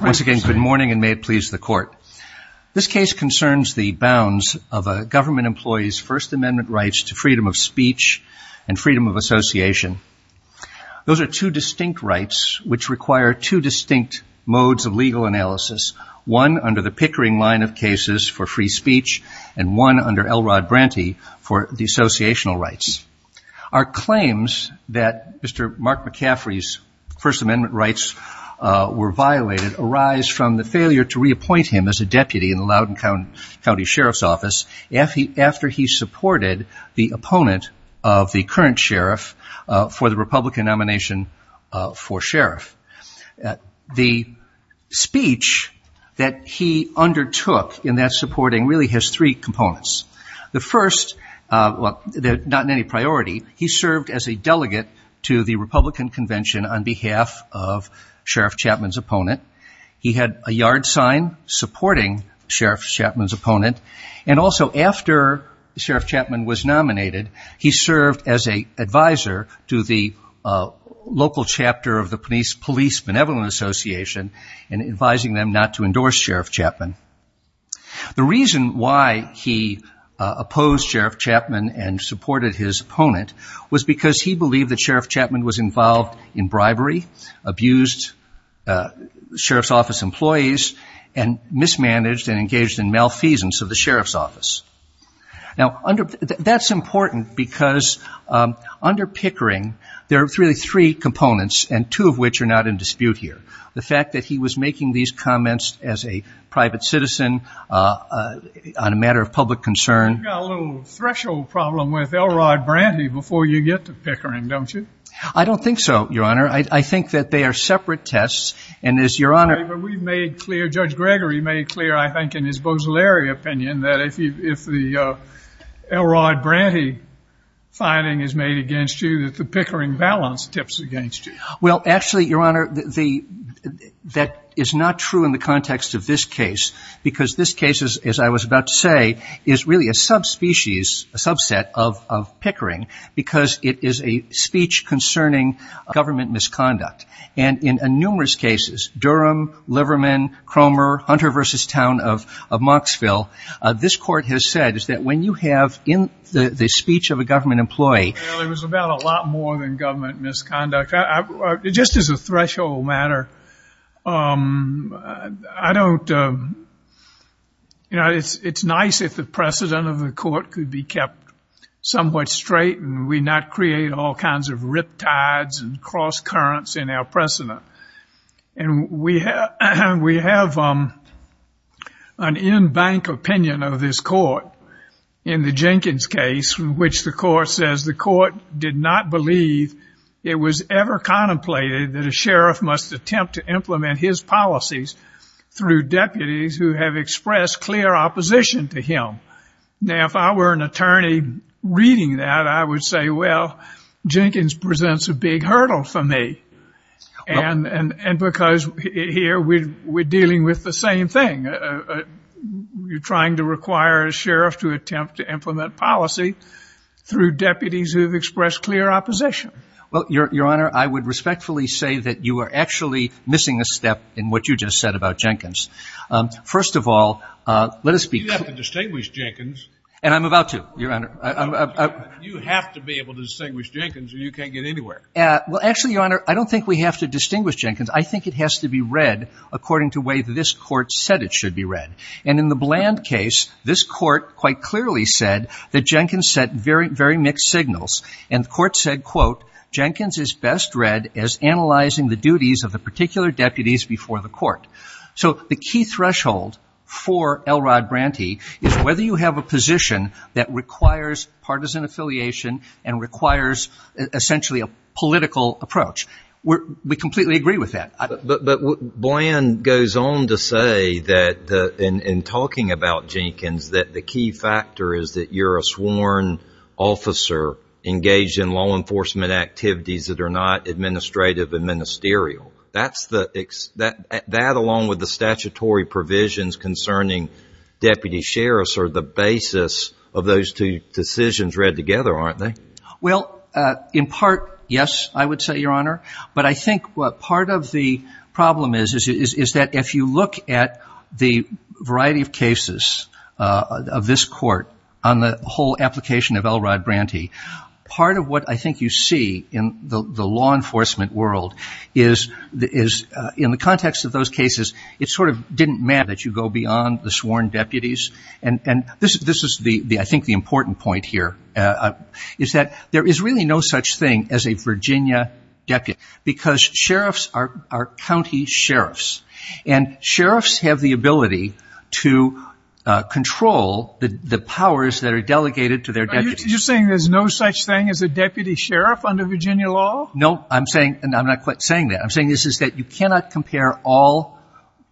Once again, good morning and may it please the court. This case concerns the bounds of a government employee's First Amendment rights to freedom of speech and freedom of association. Those are two distinct rights which require two distinct modes of legal analysis. One under the Pickering line of cases for free speech and one under Elrod Branty for dissociational rights. Our claims that Mr. Mark McCaffrey's First Amendment rights were violated arise from the failure to reappoint him as a deputy in the Loudoun County Sheriff's Office after he supported the opponent of the current sheriff for the Republican nomination for sheriff. The speech that he undertook in that supporting really has three components. The first, not in any priority, he served as a delegate to the Republican convention on behalf of Sheriff Chapman's opponent. He had a yard sign supporting Sheriff Chapman's opponent and also after Sheriff Chapman was nominated, he served as an advisor to the local chapter of the police benevolent association and advising them not to endorse Sheriff Chapman. The reason why he opposed Sheriff Chapman and supported his opponent was because he believed that Sheriff Chapman was involved in bribery, abused Sheriff's Office employees, and mismanaged and engaged in malfeasance of the Sheriff's Office. Now, that's important because under Pickering, there are really three components and two of which are not in dispute here. The fact that he was making these comments as a private citizen on a matter of public concern. You've got a little threshold problem with Elrod Branty before you get to Pickering, don't you? I don't think so, Your Honor. I think that they are separate tests. But we've made clear, Judge Gregory made clear, I think, in his Bose-Larry opinion, that if the Elrod Branty finding is made against you, that the Pickering balance tips against you. Well, actually, Your Honor, that is not true in the context of this case, because this case, as I was about to say, is really a subspecies, a subset of Pickering, because it is a speech concerning government misconduct. And in numerous cases, Durham, Liverman, Cromer, Hunter v. Town of Monksville, this court has said is that when you have in the speech of a government employee Well, it was about a lot more than government misconduct. Just as a threshold matter, I don't, you know, it's nice if the precedent of the court could be kept somewhat straight and we not create all kinds of riptides and cross currents in our precedent. And we have an in-bank opinion of this court in the Jenkins case, in which the court says the court did not believe it was ever contemplated that a sheriff must attempt to implement his policies through deputies who have expressed clear opposition to him. Now, if I were an attorney reading that, I would say, well, Jenkins presents a big hurdle for me. And because here we're dealing with the same thing. You're trying to require a sheriff to attempt to implement policy through deputies who have expressed clear opposition. Well, Your Honor, I would respectfully say that you are actually missing a step in what you just said about Jenkins. First of all, let us be clear. You have to distinguish Jenkins. And I'm about to, Your Honor. You have to be able to distinguish Jenkins or you can't get anywhere. Well, actually, Your Honor, I don't think we have to distinguish Jenkins. I think it has to be read according to the way this court said it should be read. And in the Bland case, this court quite clearly said that Jenkins sent very, very mixed signals. And the court said, quote, Jenkins is best read as analyzing the duties of the particular deputies before the court. So the key threshold for Elrod Branty is whether you have a position that requires partisan affiliation and requires essentially a political approach. We completely agree with that. But Bland goes on to say that in talking about Jenkins that the key factor is that you're a sworn officer engaged in law enforcement activities that are not administrative and ministerial. That along with the statutory provisions concerning deputy sheriffs are the basis of those two decisions read together, aren't they? Well, in part, yes, I would say, Your Honor. But I think part of the problem is that if you look at the variety of cases of this court on the whole application of Elrod Branty, part of what I think you see in the law enforcement world is in the context of those cases, it sort of didn't matter that you go beyond the sworn deputies. And this is, I think, the important point here is that there is really no such thing as a Virginia deputy because sheriffs are county sheriffs. And sheriffs have the ability to control the powers that are delegated to their deputies. You're saying there's no such thing as a deputy sheriff under Virginia law? No, I'm saying, and I'm not quite saying that, I'm saying this is that you cannot compare all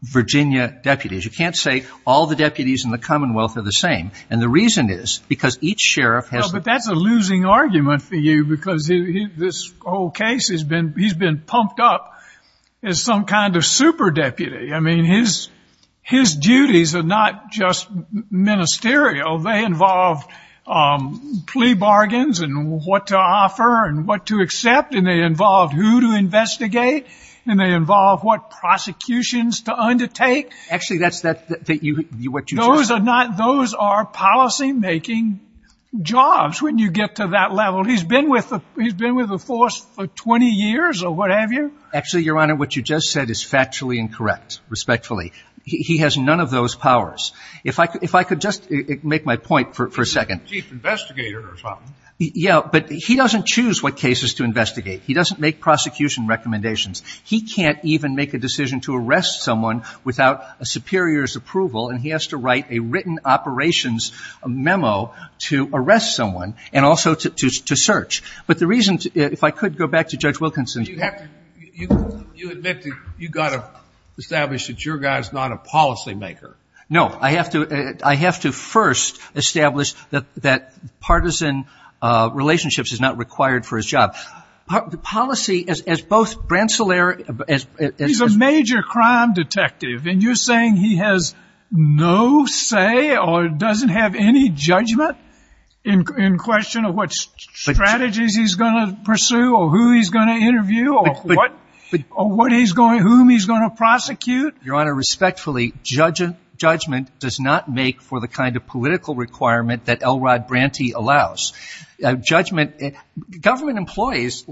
Virginia deputies. You can't say all the deputies in the commonwealth are the same. And the reason is because each sheriff has the- Well, but that's a losing argument for you because this whole case, he's been pumped up as some kind of super deputy. I mean, his duties are not just ministerial. They involve plea bargains and what to offer and what to accept, and they involve who to investigate, and they involve what prosecutions to undertake. Actually, that's what you just said. Those are policymaking jobs when you get to that level. He's been with the force for 20 years or what have you. Actually, Your Honor, what you just said is factually incorrect, respectfully. He has none of those powers. If I could just make my point for a second. Chief investigator or something. Yeah, but he doesn't choose what cases to investigate. He doesn't make prosecution recommendations. He can't even make a decision to arrest someone without a superior's approval, and he has to write a written operations memo to arrest someone and also to search. But the reason, if I could go back to Judge Wilkinson's- You admit that you've got to establish that your guy is not a policymaker. No, I have to first establish that partisan relationships is not required for his job. The policy, as both Brant Solaire- He's a major crime detective, and you're saying he has no say or doesn't have any judgment in question of what strategies he's going to pursue or who he's going to interview or whom he's going to prosecute? Your Honor, respectfully, judgment does not make for the kind of political requirement that Elrod Branty allows. Government employees,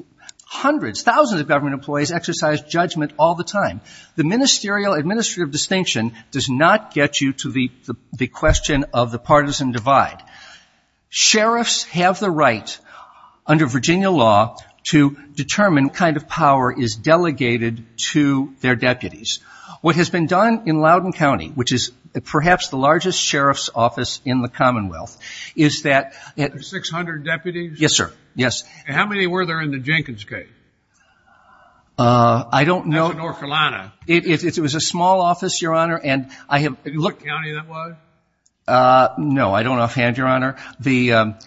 hundreds, thousands of government employees exercise judgment all the time. The ministerial administrative distinction does not get you to the question of the partisan divide. Sheriffs have the right, under Virginia law, to determine what kind of power is delegated to their deputies. What has been done in Loudoun County, which is perhaps the largest sheriff's office in the Commonwealth, is that- Six hundred deputies? Yes, sir. Yes. And how many were there in the Jenkins case? I don't know- That's in North Carolina. It was a small office, Your Honor, and I have- Did you look county that was? No, I don't offhand, Your Honor.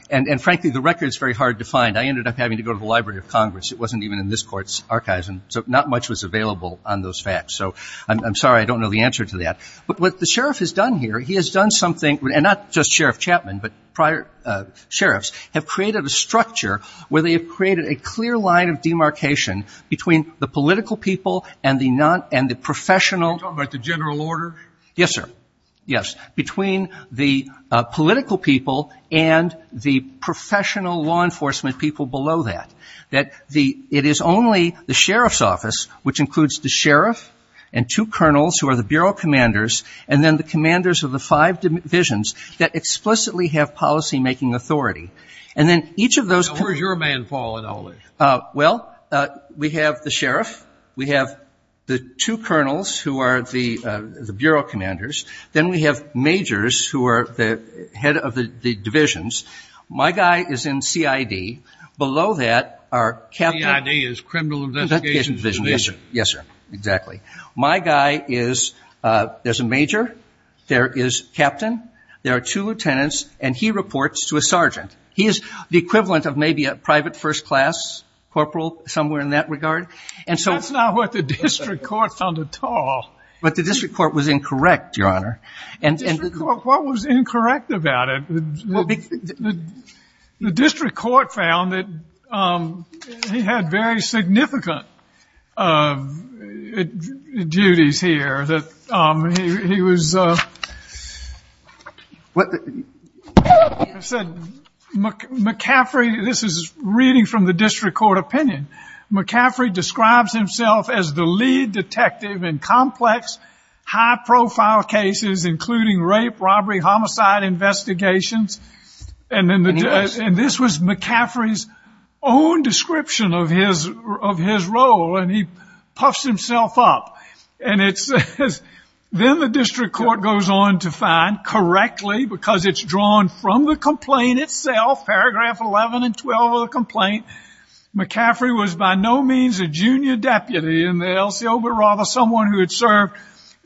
And frankly, the record is very hard to find. I ended up having to go to the Library of Congress. It wasn't even in this court's archives, and so not much was available on those facts. So I'm sorry, I don't know the answer to that. But what the sheriff has done here, he has done something, and not just Sheriff Chapman, but prior sheriffs, have created a structure where they have created a clear line of demarcation between the political people and the professional- Are you talking about the general order? Yes, sir. Yes. Between the political people and the professional law enforcement people below that. It is only the sheriff's office, which includes the sheriff and two colonels who are the bureau commanders, and then the commanders of the five divisions that explicitly have policymaking authority. And then each of those- Now where's your man, Paul, in all this? Well, we have the sheriff. We have the two colonels who are the bureau commanders. Then we have majors who are the head of the divisions. My guy is in CID. Below that are captain- CID is Criminal Investigation Division. Yes, sir. Exactly. My guy is, there's a major, there is captain, there are two lieutenants, and he reports to a sergeant. He is the equivalent of maybe a private first class corporal, somewhere in that regard. That's not what the district court found at all. But the district court was incorrect, Your Honor. What was incorrect about it? The district court found that he had very significant duties here. He was, I said, McCaffrey, this is reading from the district court opinion. McCaffrey describes himself as the lead detective in complex, high-profile cases, including rape, robbery, homicide investigations. And this was McCaffrey's own description of his role, and he puffs himself up. And it says, then the district court goes on to find, correctly, because it's drawn from the complaint itself, paragraph 11 and 12 of the complaint, McCaffrey was by no means a junior deputy in the LCO, but rather someone who had served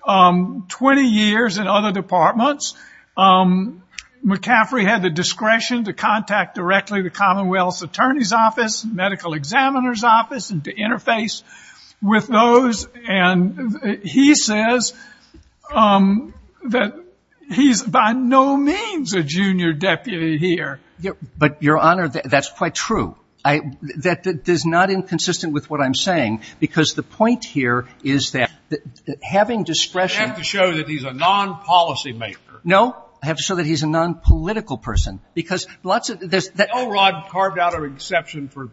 20 years in other departments. McCaffrey had the discretion to contact directly the Commonwealth's attorney's office, medical examiner's office, and to interface with those. And he says that he's by no means a junior deputy here. But, Your Honor, that's quite true. That is not inconsistent with what I'm saying, because the point here is that having discretion. You have to show that he's a non-policy maker. No. I have to show that he's a non-political person, because lots of this. No rod carved out of exception for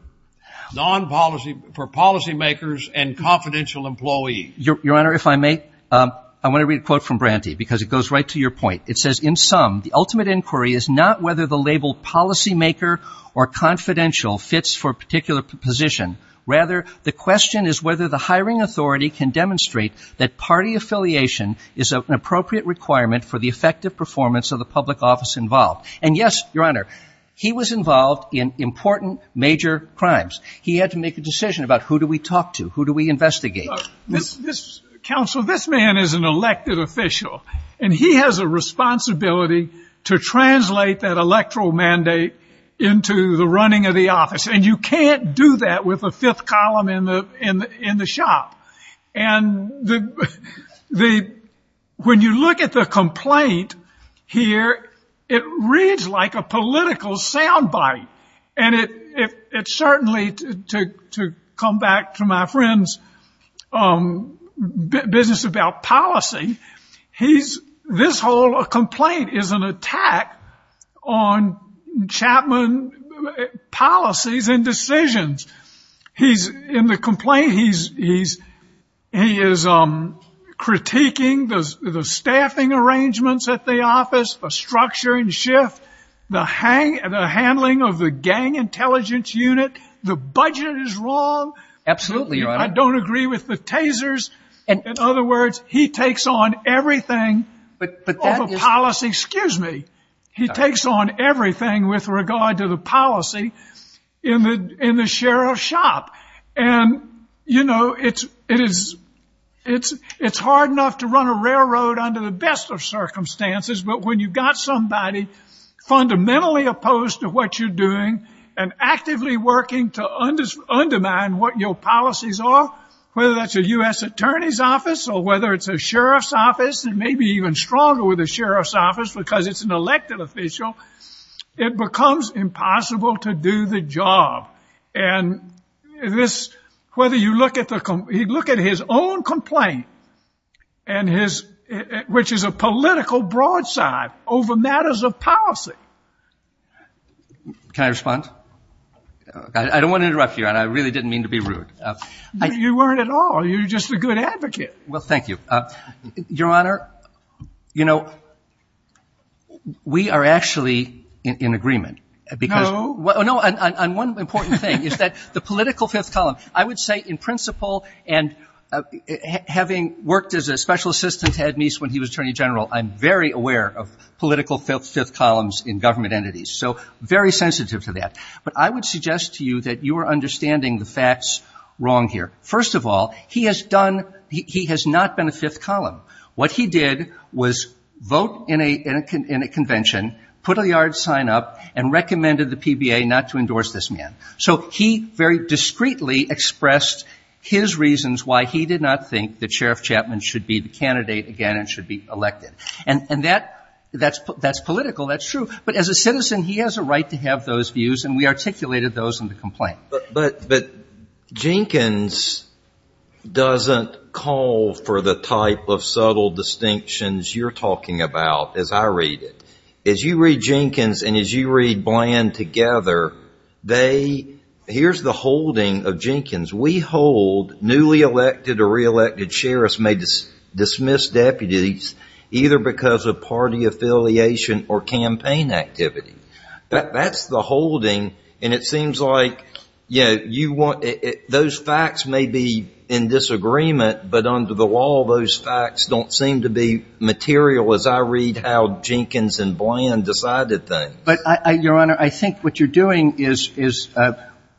policy makers and confidential employees. Your Honor, if I may, I want to read a quote from Branty, because it goes right to your point. It says, in sum, the ultimate inquiry is not whether the label policy maker or confidential fits for a particular position. Rather, the question is whether the hiring authority can demonstrate that party affiliation is an appropriate requirement for the effective performance of the public office involved. And, yes, Your Honor, he was involved in important major crimes. He had to make a decision about who do we talk to, who do we investigate. Counsel, this man is an elected official. And he has a responsibility to translate that electoral mandate into the running of the office. And you can't do that with a fifth column in the shop. And when you look at the complaint here, it reads like a political sound bite. And it certainly, to come back to my friend's business about policy, this whole complaint is an attack on Chapman policies and decisions. In the complaint, he is critiquing the staffing arrangements at the office, the structure and shift, the handling of the gang intelligence unit. The budget is wrong. Absolutely, Your Honor. I don't agree with the tasers. In other words, he takes on everything over policy. Excuse me. He takes on everything with regard to the policy in the sheriff's shop. And, you know, it's hard enough to run a railroad under the best of circumstances. But when you've got somebody fundamentally opposed to what you're doing and actively working to undermine what your policies are, whether that's a U.S. attorney's office or whether it's a sheriff's office and maybe even stronger with a sheriff's office because it's an elected official, it becomes impossible to do the job. And whether you look at his own complaint, which is a political broadside over matters of policy. Can I respond? I don't want to interrupt you, Your Honor. I really didn't mean to be rude. You weren't at all. You're just a good advocate. Well, thank you. Your Honor, you know, we are actually in agreement. No. No. And one important thing is that the political fifth column, I would say in principle and having worked as a special assistant to Ed Meese when he was attorney general, I'm very aware of political fifth columns in government entities. So very sensitive to that. But I would suggest to you that you are understanding the facts wrong here. First of all, he has done he has not been a fifth column. What he did was vote in a convention, put a yard sign up, and recommended the PBA not to endorse this man. So he very discreetly expressed his reasons why he did not think that Sheriff Chapman should be the candidate again and should be elected. And that's political. That's true. But as a citizen, he has a right to have those views, and we articulated those in the complaint. But Jenkins doesn't call for the type of subtle distinctions you're talking about as I read it. As you read Jenkins and as you read Bland together, here's the holding of Jenkins. We hold newly elected or reelected sheriffs may dismiss deputies either because of party affiliation or campaign activity. That's the holding. And it seems like, you know, you want those facts may be in disagreement, but under the law, those facts don't seem to be material as I read how Jenkins and Bland decided things. But, Your Honor, I think what you're doing is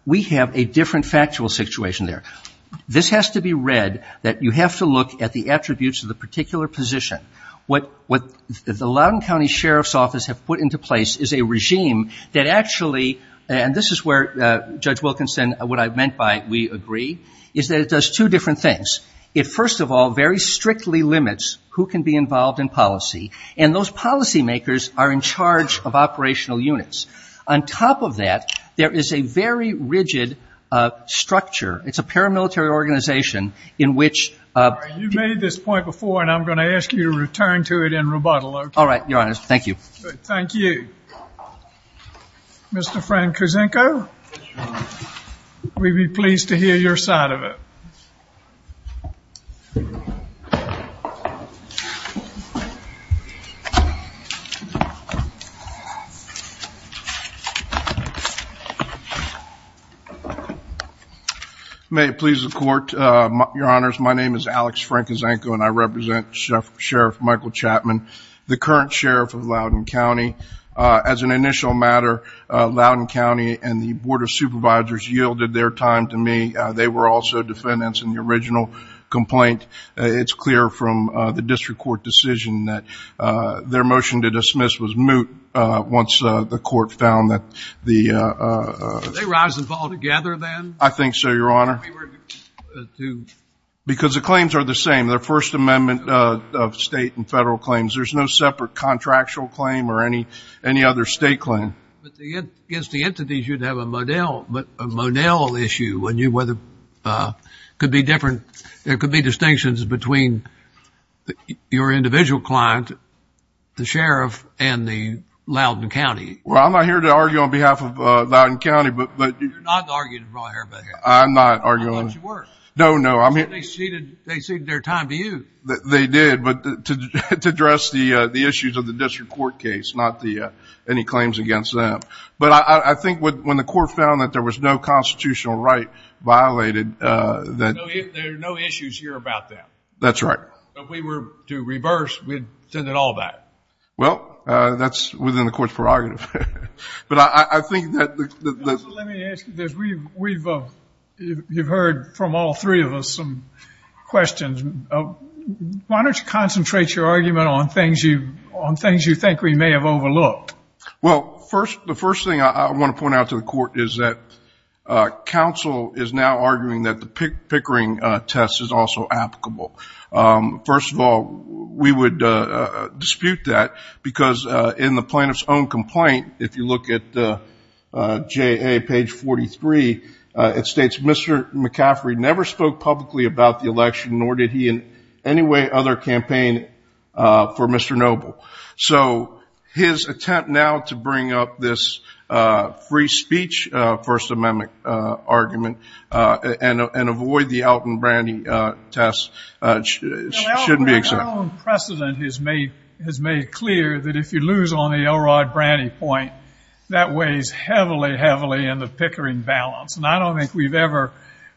we have a different factual situation there. This has to be read that you have to look at the attributes of the particular position. What the Loudoun County Sheriff's Office have put into place is a regime that actually, and this is where Judge Wilkinson, what I meant by we agree, is that it does two different things. It, first of all, very strictly limits who can be involved in policy, and those policymakers are in charge of operational units. On top of that, there is a very rigid structure. It's a paramilitary organization in which- We can return to it in rebuttal. All right, Your Honor. Thank you. Thank you. Mr. Frank Kuzenko, we'd be pleased to hear your side of it. May it please the Court. Your Honor, my name is Alex Frank Kuzenko, and I represent Sheriff Michael Chapman, the current sheriff of Loudoun County. As an initial matter, Loudoun County and the Board of Supervisors yielded their time to me. They were also defendants in the original complaint. It's clear from the district court decision that their motion to dismiss was moot once the court found that the- Did they rise and fall together then? I think so, Your Honor. Because the claims are the same. They're First Amendment state and federal claims. There's no separate contractual claim or any other state claim. But against the entities, you'd have a Monell issue. Could be different. There could be distinctions between your individual client, the sheriff, and the Loudoun County. Well, I'm not here to argue on behalf of Loudoun County, but- I'm not arguing. No, no. They ceded their time to you. They did, but to address the issues of the district court case, not any claims against them. But I think when the court found that there was no constitutional right violated- There are no issues here about that. That's right. If we were to reverse, we'd send it all back. Well, that's within the court's prerogative. But I think that- Let me ask you this. You've heard from all three of us some questions. Why don't you concentrate your argument on things you think we may have overlooked? Well, the first thing I want to point out to the court is that counsel is now arguing that the Pickering test is also applicable. First of all, we would dispute that because in the plaintiff's own complaint, if you look at J.A., page 43, it states, Mr. McCaffrey never spoke publicly about the election, nor did he in any way other campaign for Mr. Noble. So his attempt now to bring up this free speech First Amendment argument and avoid the Elton Brandy test shouldn't be accepted. Your own precedent has made clear that if you lose on the Elrod Brandy point, that weighs heavily, heavily in the Pickering balance. And I don't think we've ever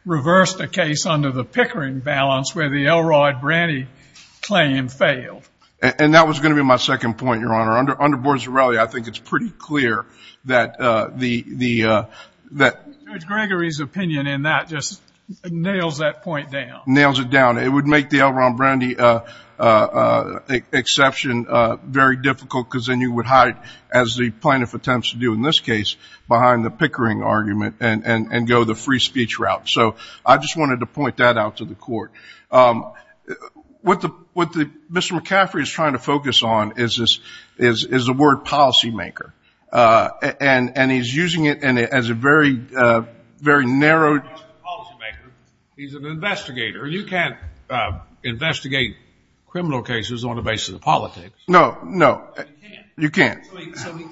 reversed a case under the Pickering balance where the Elrod Brandy claim failed. And that was going to be my second point, Your Honor. Under Borsarelli, I think it's pretty clear that the- Judge Gregory's opinion in that just nails that point down. Nails it down. It would make the Elrod Brandy exception very difficult because then you would hide, as the plaintiff attempts to do in this case, behind the Pickering argument and go the free speech route. So I just wanted to point that out to the Court. What Mr. McCaffrey is trying to focus on is the word policymaker. And he's using it as a very, very narrowed- He's not a policymaker. He's an investigator. You can't investigate criminal cases on the basis of politics. No, no. You can't.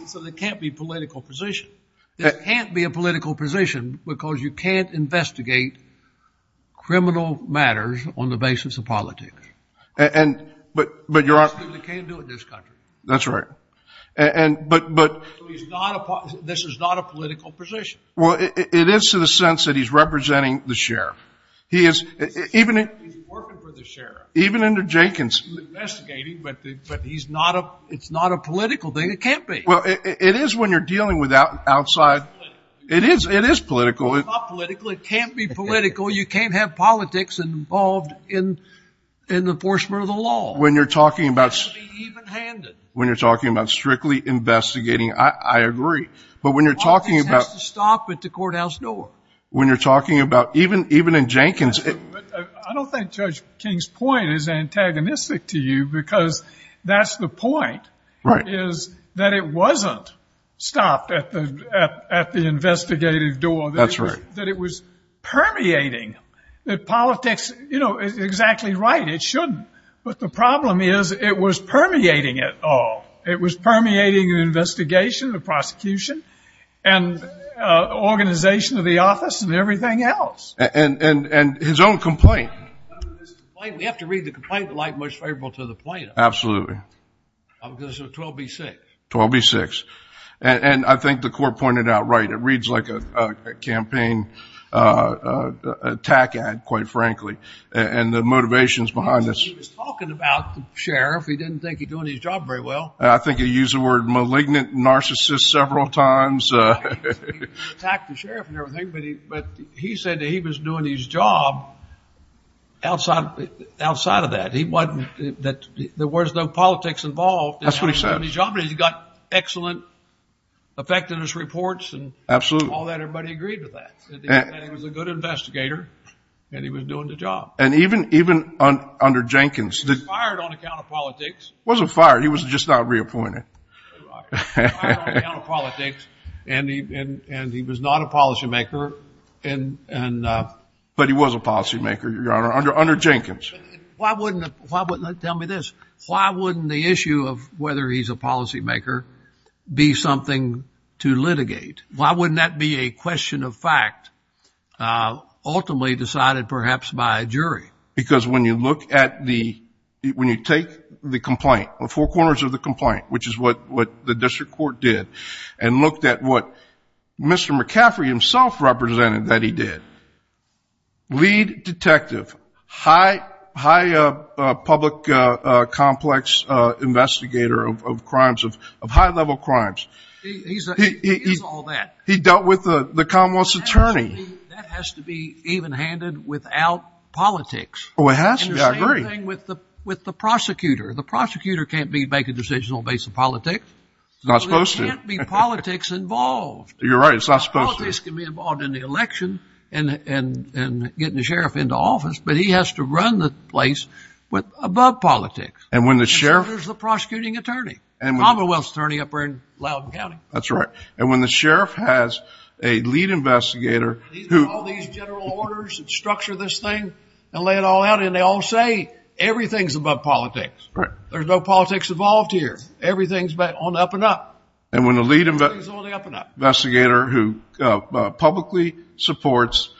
So there can't be political position. There can't be a political position because you can't investigate criminal matters on the basis of politics. But Your Honor- You can't do it in this country. That's right. But- This is not a political position. Well, it is to the sense that he's representing the sheriff. He's working for the sheriff. Even under Jenkins. He's investigating, but it's not a political thing. It can't be. Well, it is when you're dealing with outside- It's not political. It is. It is political. It's not political. It can't be political. You can't have politics involved in the enforcement of the law. When you're talking about- It has to be even-handed. When you're talking about strictly investigating, I agree. But when you're talking about- The office has to stop at the courthouse door. When you're talking about- Even in Jenkins- I don't think Judge King's point is antagonistic to you because that's the point. Right. Is that it wasn't stopped at the investigative door. That's right. That it was permeating. That politics- You know, exactly right. It shouldn't. But the problem is it was permeating it all. It was permeating the investigation, the prosecution, and organization of the office, and everything else. And his own complaint. We have to read the complaint to like most favorable to the plaintiff. Absolutely. Because of 12b-6. 12b-6. And I think the court pointed out right. It reads like a campaign attack ad, quite frankly, and the motivations behind this. He was talking about the sheriff. He didn't think he was doing his job very well. I think he used the word malignant narcissist several times. He attacked the sheriff and everything, but he said that he was doing his job outside of that. There was no politics involved. That's what he said. He got excellent effectiveness reports and all that. Everybody agreed with that. He was a good investigator, and he was doing the job. And even under Jenkins- He was fired on account of politics. He wasn't fired. He was just not reappointed. Fired on account of politics, and he was not a policymaker. But he was a policymaker, Your Honor, under Jenkins. Why wouldn't the issue of whether he's a policymaker be something to litigate? Why wouldn't that be a question of fact, ultimately decided perhaps by a jury? Because when you look at the ‑‑ when you take the complaint, the four corners of the complaint, which is what the district court did, and looked at what Mr. McCaffrey himself represented that he did, lead detective, high public complex investigator of crimes, of high-level crimes. He is all that. He dealt with the Commonwealth's attorney. That has to be evenhanded without politics. It has to. I agree. And the same thing with the prosecutor. The prosecutor can't be making decisions on the basis of politics. He's not supposed to. There can't be politics involved. You're right. It's not supposed to. Politics can be involved in the election and getting the sheriff into office, but he has to run the place above politics. And when the sheriff- And so does the prosecuting attorney, the Commonwealth's attorney up there in Loudoun County. That's right. And when the sheriff has a lead investigator who- These are all these general orders that structure this thing and lay it all out, and they all say everything's above politics. There's no politics involved here. Everything's on the up and up. And when the lead investigator who publicly supports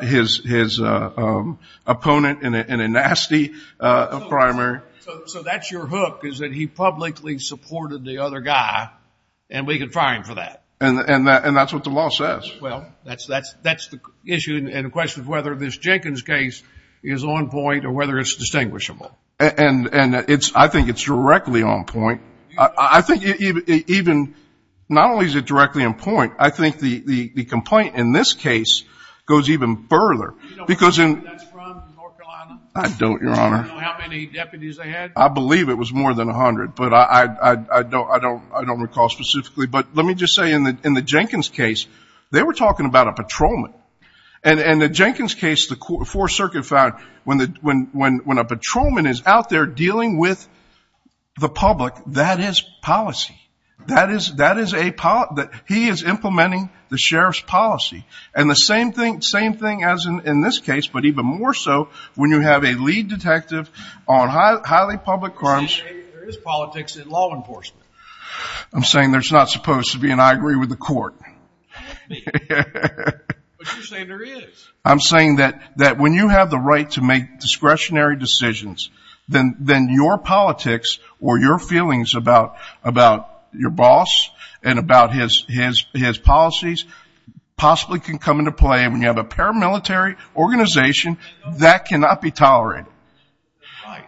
his opponent in a nasty primary- And that's what the law says. Well, that's the issue and the question of whether this Jenkins case is on point or whether it's distinguishable. And I think it's directly on point. I think even not only is it directly on point, I think the complaint in this case goes even further. Do you know where that's from, North Carolina? I don't, Your Honor. Do you know how many deputies they had? I believe it was more than 100, but I don't recall specifically. But let me just say in the Jenkins case, they were talking about a patrolman. And in the Jenkins case, the Fourth Circuit found when a patrolman is out there dealing with the public, that is policy. That is a policy. He is implementing the sheriff's policy. And the same thing as in this case, but even more so when you have a lead detective on highly public crimes- See, there is politics in law enforcement. I'm saying there's not supposed to be, and I agree with the court. But you're saying there is. I'm saying that when you have the right to make discretionary decisions, then your politics or your feelings about your boss and about his policies possibly can come into play. And when you have a paramilitary organization, that cannot be tolerated.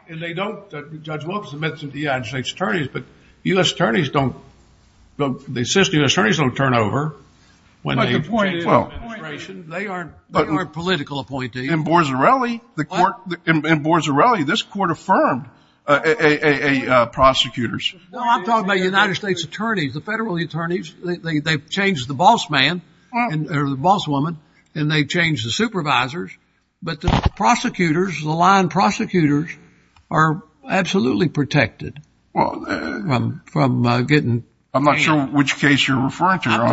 And they don't, Judge Wilkerson mentioned the United States attorneys, but U.S. attorneys don't, the assistant U.S. attorneys don't turn over when they- But the point is- They aren't political appointees. In Borzarelli, this court affirmed prosecutors. Well, I'm talking about United States attorneys. The federal attorneys, they've changed the boss man, or the boss woman, and they've changed the supervisors. But the prosecutors, the line prosecutors, are absolutely protected from getting- I'm not sure which case you're referring to. I'm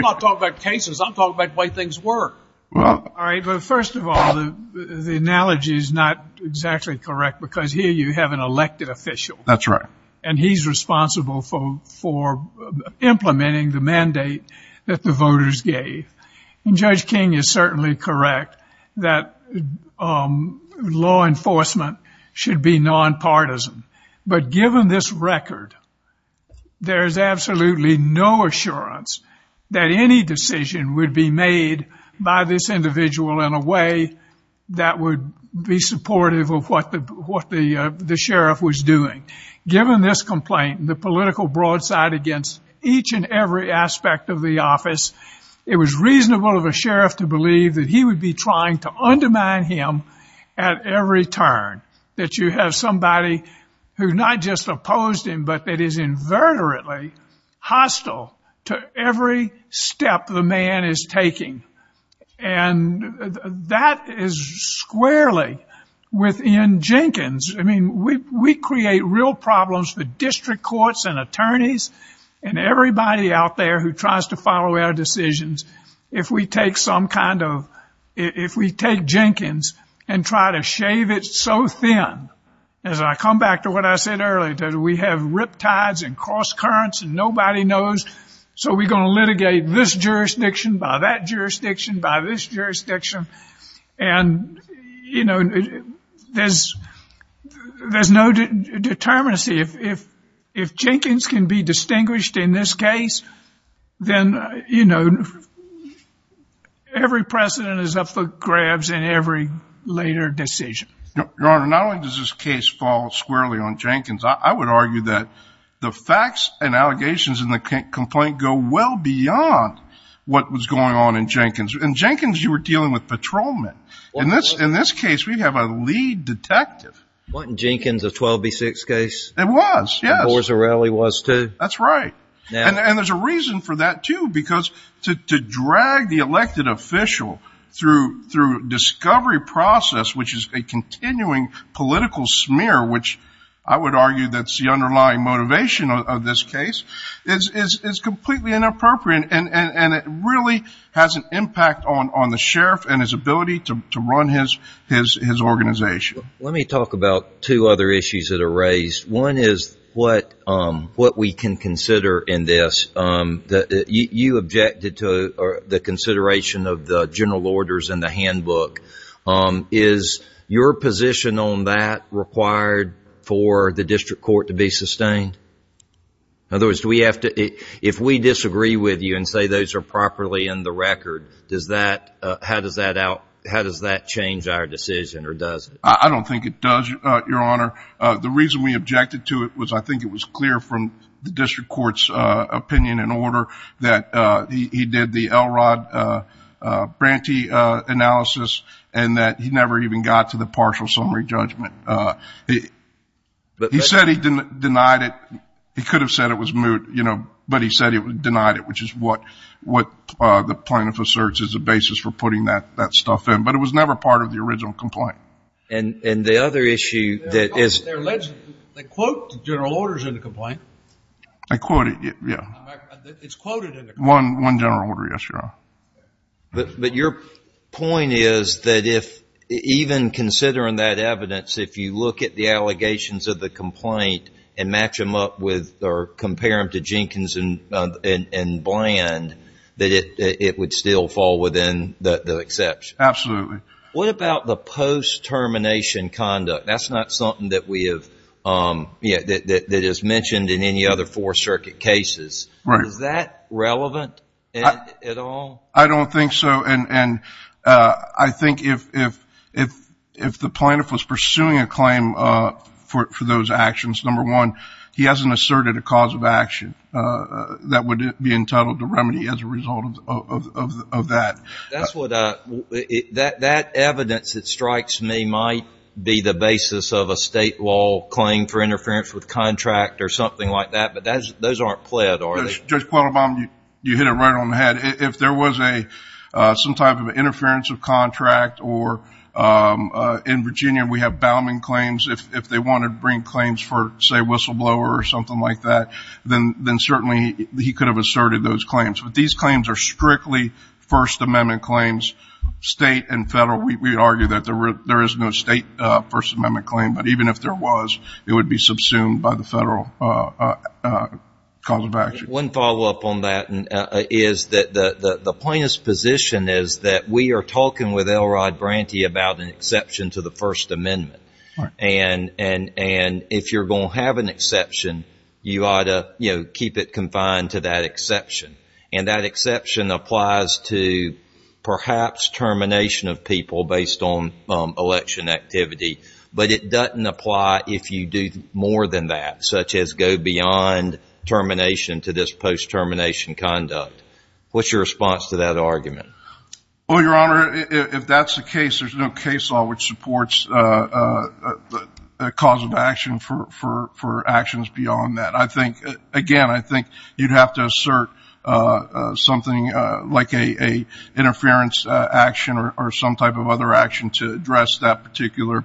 not talking about cases. I'm talking about the way things work. All right, but first of all, the analogy is not exactly correct because here you have an elected official. That's right. And he's responsible for implementing the mandate that the voters gave. And Judge King is certainly correct that law enforcement should be nonpartisan. But given this record, there's absolutely no assurance that any decision would be made by this individual in a way that would be supportive of what the sheriff was doing. Given this complaint, the political broadside against each and every aspect of the office, it was reasonable of a sheriff to believe that he would be trying to undermine him at every turn, that you have somebody who not just opposed him, but that is inverterately hostile to every step the man is taking. And that is squarely within Jenkins. I mean, we create real problems for district courts and attorneys and everybody out there who tries to follow our decisions. If we take some kind of, if we take Jenkins and try to shave it so thin, as I come back to what I said earlier, that we have riptides and cross currents and nobody knows, so we're going to litigate this jurisdiction by that jurisdiction by this jurisdiction. And, you know, there's no determinacy. If Jenkins can be distinguished in this case, then, you know, every precedent is up for grabs in every later decision. Your Honor, not only does this case fall squarely on Jenkins, I would argue that the facts and allegations in the complaint go well beyond what was going on in Jenkins. In Jenkins, you were dealing with patrolmen. In this case, we have a lead detective. Wasn't Jenkins a 12B6 case? It was, yes. And Borzarelli was, too? That's right. And there's a reason for that, too, because to drag the elected official through discovery process, which is a continuing political smear, which I would argue that's the underlying motivation of this case, is completely inappropriate, and it really has an impact on the sheriff and his ability to run his organization. Let me talk about two other issues that are raised. One is what we can consider in this. You objected to the consideration of the general orders in the handbook. Is your position on that required for the district court to be sustained? In other words, if we disagree with you and say those are properly in the record, how does that change our decision, or does it? I don't think it does, Your Honor. The reason we objected to it was I think it was clear from the district court's opinion and order that he did the Elrod Brantee analysis and that he never even got to the partial summary judgment. He said he denied it. He could have said it was moot, but he said he denied it, which is what the plaintiff asserts is the basis for putting that stuff in. But it was never part of the original complaint. And the other issue that is – They quote the general orders in the complaint. They quote it, yeah. It's quoted in the complaint. One general order, yes, Your Honor. But your point is that even considering that evidence, if you look at the allegations of the complaint and match them up with or compare them to Jenkins and Bland, that it would still fall within the exception. Absolutely. What about the post-termination conduct? That's not something that is mentioned in any other Fourth Circuit cases. Is that relevant at all? I don't think so. And I think if the plaintiff was pursuing a claim for those actions, number one, he hasn't asserted a cause of action that would be entitled to remedy as a result of that. That evidence that strikes me might be the basis of a state law claim for interference with contract or something like that, but those aren't pled, are they? Judge Quattlebaum, you hit it right on the head. If there was some type of interference of contract, or in Virginia we have Bauman claims, if they wanted to bring claims for, say, whistleblower or something like that, then certainly he could have asserted those claims. But these claims are strictly First Amendment claims, state and federal. We argue that there is no state First Amendment claim, but even if there was it would be subsumed by the federal cause of action. One follow-up on that is that the plaintiff's position is that we are talking with Elrod Branty about an exception to the First Amendment. And if you're going to have an exception, you ought to keep it confined to that exception. And that exception applies to perhaps termination of people based on election activity, but it doesn't apply if you do more than that, such as go beyond termination to this post-termination conduct. What's your response to that argument? Well, Your Honor, if that's the case, there's no case law which supports the cause of action for actions beyond that. Again, I think you'd have to assert something like an interference action or some type of other action to address that particular,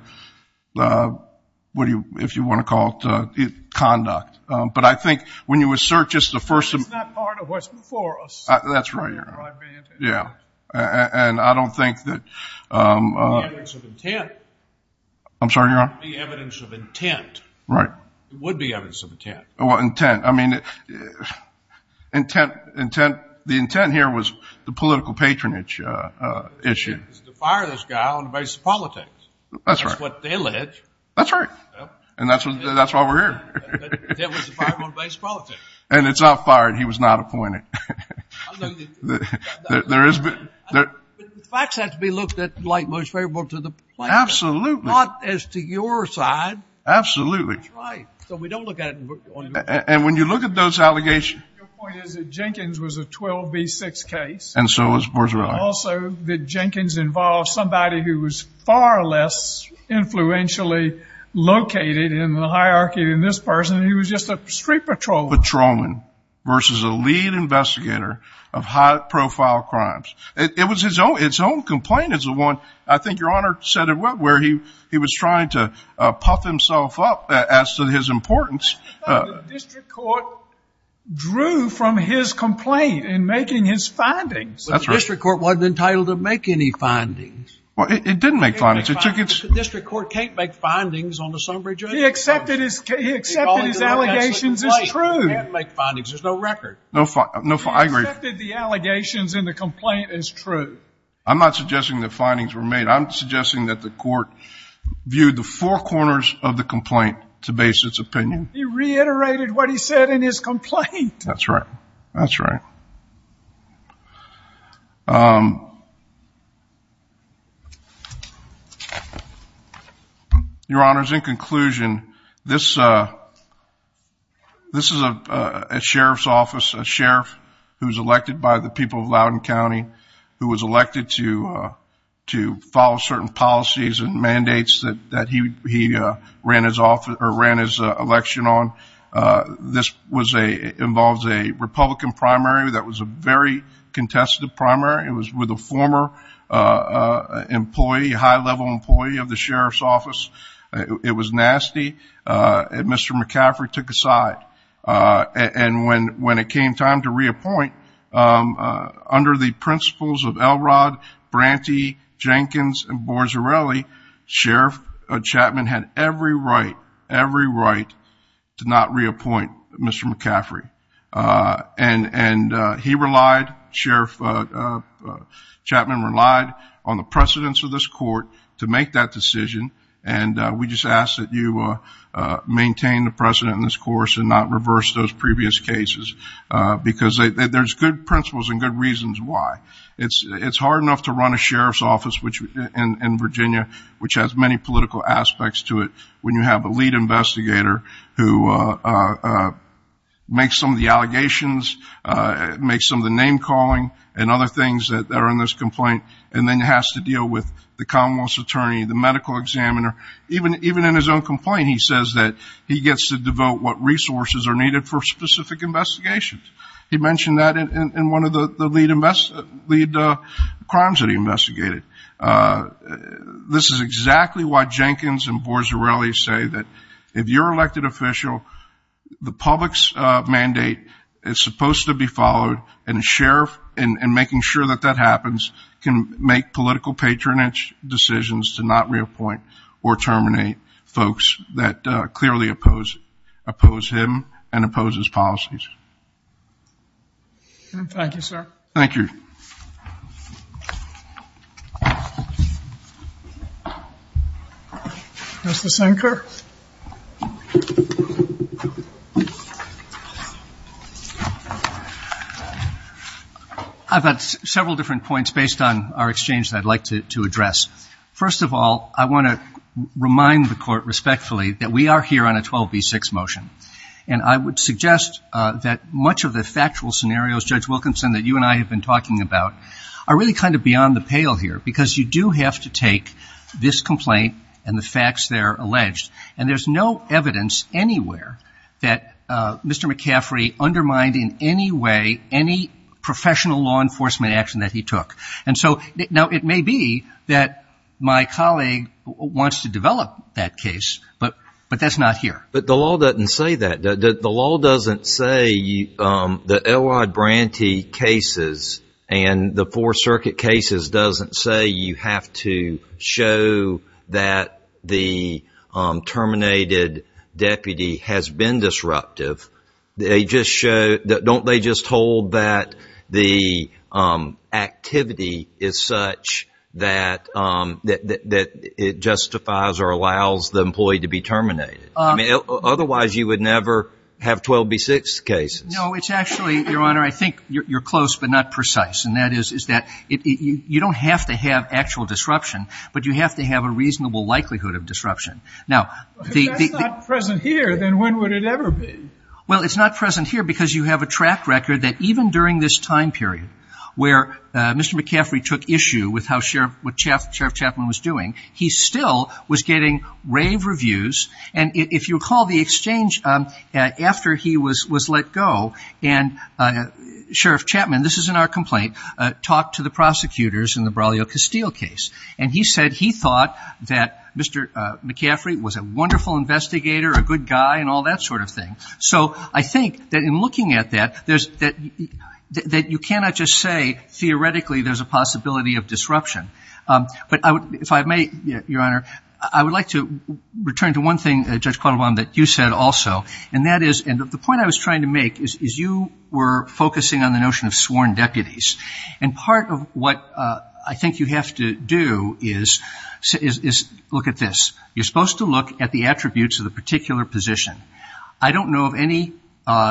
if you want to call it, conduct. But I think when you assert just the first of the – That's not part of what's before us. That's right, Your Honor. Elrod Branty. Yeah. And I don't think that – The evidence of intent. I'm sorry, Your Honor? The evidence of intent. Right. It would be evidence of intent. Well, intent. I mean, intent – the intent here was the political patronage issue. The intent was to fire this guy on the basis of politics. That's right. That's what they alleged. That's right. And that's why we're here. The intent was to fire him on the basis of politics. And it's not fired. He was not appointed. There is – The facts have to be looked at like most favorable to the plaintiff. Absolutely. Not as to your side. Absolutely. That's right. So we don't look at it – And when you look at those allegations – Your point is that Jenkins was a 12B6 case. And so was – where's your line? And also that Jenkins involved somebody who was far less influentially located in the hierarchy than this person. He was just a street patrolman. Patrolman versus a lead investigator of high-profile crimes. Where he was trying to puff himself up as to his importance. The district court drew from his complaint in making his findings. That's right. But the district court wasn't entitled to make any findings. Well, it didn't make findings. It took its – The district court can't make findings on the Sunbridge case. He accepted his allegations as true. He can't make findings. There's no record. I agree. He accepted the allegations in the complaint as true. I'm not suggesting that findings were made. I'm suggesting that the court viewed the four corners of the complaint to base its opinion. He reiterated what he said in his complaint. That's right. That's right. Your Honors, in conclusion, this is a sheriff's office. elected to follow certain policies and mandates that he ran his election on. This involves a Republican primary that was a very contested primary. It was with a former employee, a high-level employee of the sheriff's office. It was nasty. Mr. McCaffrey took a side. And when it came time to reappoint, under the principles of Elrod, Branty, Jenkins, and Bozzarelli, Sheriff Chapman had every right, every right to not reappoint Mr. McCaffrey. And he relied, Sheriff Chapman relied on the precedence of this court to make that decision. And we just ask that you maintain the precedent in this course and not reverse those previous cases. Because there's good principles and good reasons why. It's hard enough to run a sheriff's office in Virginia, which has many political aspects to it, when you have a lead investigator who makes some of the allegations, makes some of the name-calling and other things that are in this complaint, and then has to deal with the commonwealth's attorney, the medical examiner. Even in his own complaint, he says that he gets to devote what resources are needed for specific investigations. He mentioned that in one of the lead crimes that he investigated. This is exactly why Jenkins and Bozzarelli say that if you're an elected official, the public's mandate is supposed to be followed, and a sheriff, in making sure that that happens, can make political patronage decisions to not reappoint or terminate folks that clearly oppose him and oppose his policies. Thank you, sir. Thank you. Mr. Sinker? I've had several different points based on our exchange that I'd like to address. First of all, I want to remind the Court respectfully that we are here on a 12B6 motion, and I would suggest that much of the factual scenarios, Judge Wilkinson, that you and I have been talking about, are really kind of beyond the pale here, because you do have to take this complaint and the facts there alleged. And there's no evidence anywhere that Mr. McCaffrey undermined in any way any professional law enforcement action that he took. And so, now, it may be that my colleague wants to develop that case, but that's not here. But the law doesn't say that. The law doesn't say the Elwod Branty cases and the Four Circuit cases doesn't say you have to show that the terminated deputy has been disruptive. They just show – don't they just hold that the activity is such that it justifies or allows the employee to be terminated? I mean, otherwise, you would never have 12B6 cases. No, it's actually, Your Honor, I think you're close but not precise. And that is that you don't have to have actual disruption, but you have to have a reasonable likelihood of disruption. If that's not present here, then when would it ever be? Well, it's not present here because you have a track record that even during this time period where Mr. McCaffrey took issue with how Sheriff Chapman was doing, he still was getting rave reviews. And if you recall the exchange after he was let go and Sheriff Chapman, this is in our complaint, talked to the prosecutors in the Braulio Castile case. And he said he thought that Mr. McCaffrey was a wonderful investigator, a good guy, and all that sort of thing. So I think that in looking at that, that you cannot just say theoretically there's a possibility of disruption. But if I may, Your Honor, I would like to return to one thing, Judge Quattlebaum, that you said also, and that is the point I was trying to make is you were focusing on the notion of sworn deputies. And part of what I think you have to do is look at this. You're supposed to look at the attributes of the particular position. I don't know of any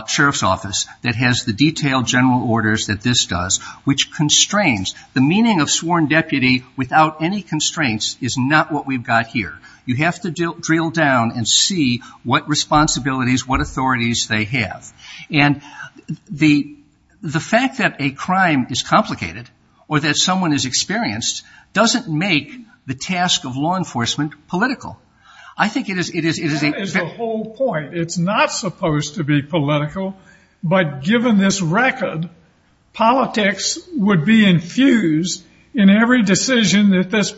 sheriff's office that has the detailed general orders that this does, which constrains the meaning of sworn deputy without any constraints is not what we've got here. You have to drill down and see what responsibilities, what authorities they have. And the fact that a crime is complicated or that someone is experienced doesn't make the task of law enforcement political. That is the whole point. It's not supposed to be political. But given this record, politics would be infused in every decision that this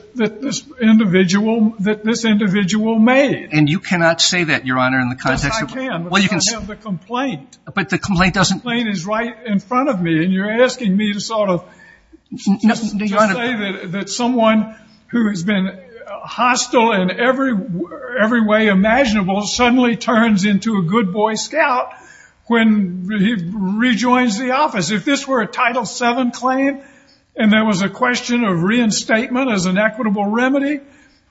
individual made. And you cannot say that, Your Honor, in the context of the complaint. But the complaint doesn't – The complaint is right in front of me, and you're asking me to sort of just say that someone who has been hostile in every way imaginable suddenly turns into a good boy scout when he rejoins the office. If this were a Title VII claim and there was a question of reinstatement as an equitable remedy,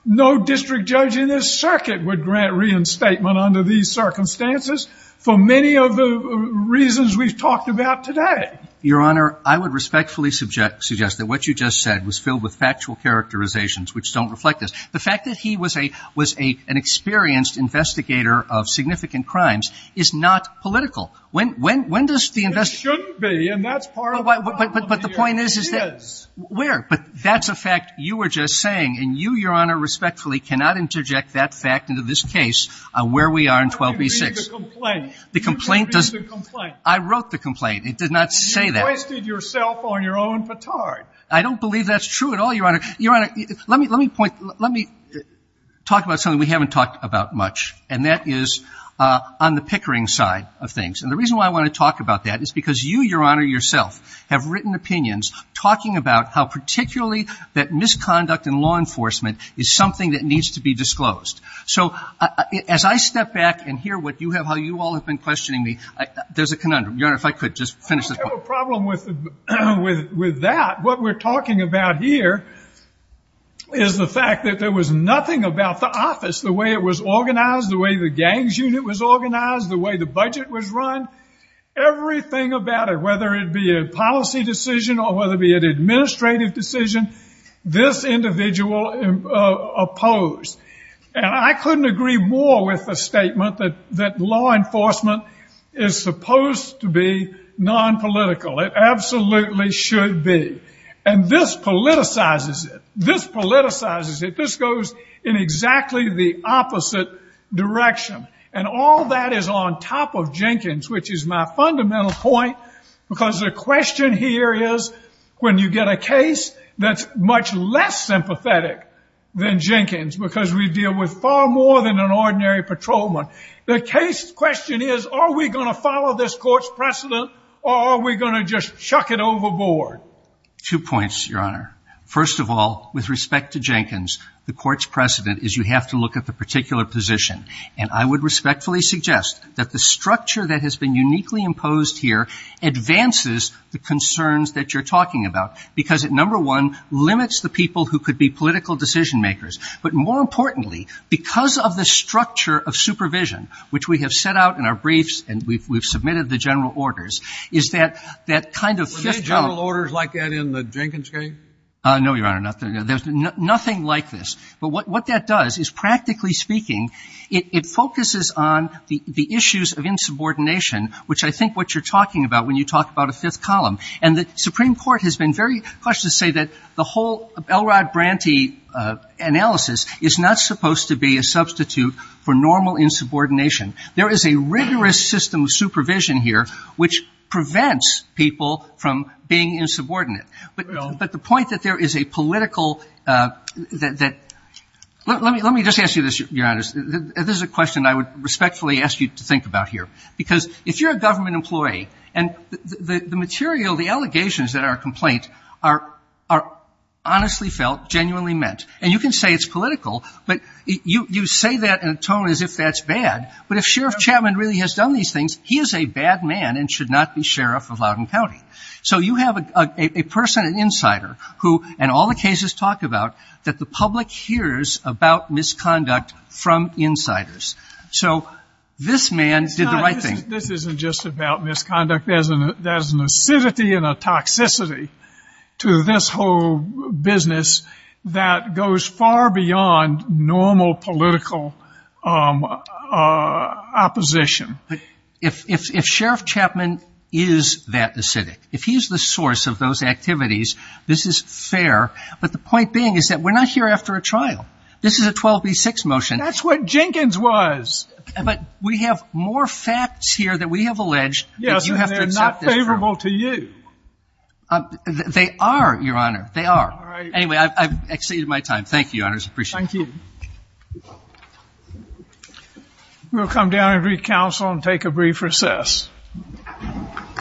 no district judge in this circuit would grant reinstatement under these circumstances for many of the reasons we've talked about today. Your Honor, I would respectfully suggest that what you just said was filled with factual characterizations which don't reflect this. The fact that he was an experienced investigator of significant crimes is not political. When does the investigation – It shouldn't be, and that's part of the problem here. But the point is that – It is. Where? But that's a fact you were just saying, and you, Your Honor, respectfully cannot interject that fact into this case where we are in 12b-6. You didn't read the complaint. The complaint does – You didn't read the complaint. I wrote the complaint. It did not say that. You wasted yourself on your own fatard. I don't believe that's true at all, Your Honor. Your Honor, let me point – let me talk about something we haven't talked about much, and that is on the pickering side of things. And the reason why I want to talk about that is because you, Your Honor, yourself, have written opinions talking about how particularly that misconduct in law enforcement is something that needs to be disclosed. So as I step back and hear what you have, how you all have been questioning me, there's a conundrum. Your Honor, if I could just finish this point. I don't have a problem with that. What we're talking about here is the fact that there was nothing about the office, the way it was organized, the way the gangs unit was organized, the way the budget was run, everything about it, whether it be a policy decision or whether it be an administrative decision, this individual opposed. And I couldn't agree more with the statement that law enforcement is supposed to be nonpolitical. It absolutely should be. And this politicizes it. This politicizes it. This goes in exactly the opposite direction. And all that is on top of Jenkins, which is my fundamental point, because the question here is when you get a case that's much less sympathetic than Jenkins, because we deal with far more than an ordinary patrolman, the case question is, are we going to follow this court's precedent or are we going to just chuck it overboard? Two points, Your Honor. First of all, with respect to Jenkins, the court's precedent is you have to look at the particular position. And I would respectfully suggest that the structure that has been uniquely imposed here advances the concerns that you're talking about, because it, number one, limits the people who could be political decision makers. But more importantly, because of the structure of supervision, which we have set out in our briefs and we've submitted the general orders, is that that kind of fifth column. Were there general orders like that in the Jenkins case? No, Your Honor. There's nothing like this. But what that does is, practically speaking, it focuses on the issues of insubordination, which I think what you're talking about when you talk about a fifth column. And the Supreme Court has been very cautious to say that the whole Elrod Branty analysis is not supposed to be a substitute for normal insubordination. There is a rigorous system of supervision here which prevents people from being insubordinate. But the point that there is a political that — let me just ask you this, Your Honor. This is a question I would respectfully ask you to think about here. Because if you're a government employee and the material, the allegations that are a complaint are honestly felt, genuinely meant. And you can say it's political, but you say that in a tone as if that's bad. But if Sheriff Chapman really has done these things, he is a bad man and should not be sheriff of Loudoun County. So you have a person, an insider, who, in all the cases talked about, that the public hears about misconduct from insiders. So this man did the right thing. This isn't just about misconduct. There's an acidity and a toxicity to this whole business that goes far beyond normal political opposition. If Sheriff Chapman is that acidic, if he's the source of those activities, this is fair. But the point being is that we're not here after a trial. This is a 12B6 motion. That's what Jenkins was. But we have more facts here that we have alleged. Yes, and they're not favorable to you. They are, Your Honor. They are. Anyway, I've exceeded my time. Thank you, Your Honors. I appreciate it. Thank you. We'll come down and re-counsel and take a brief recess.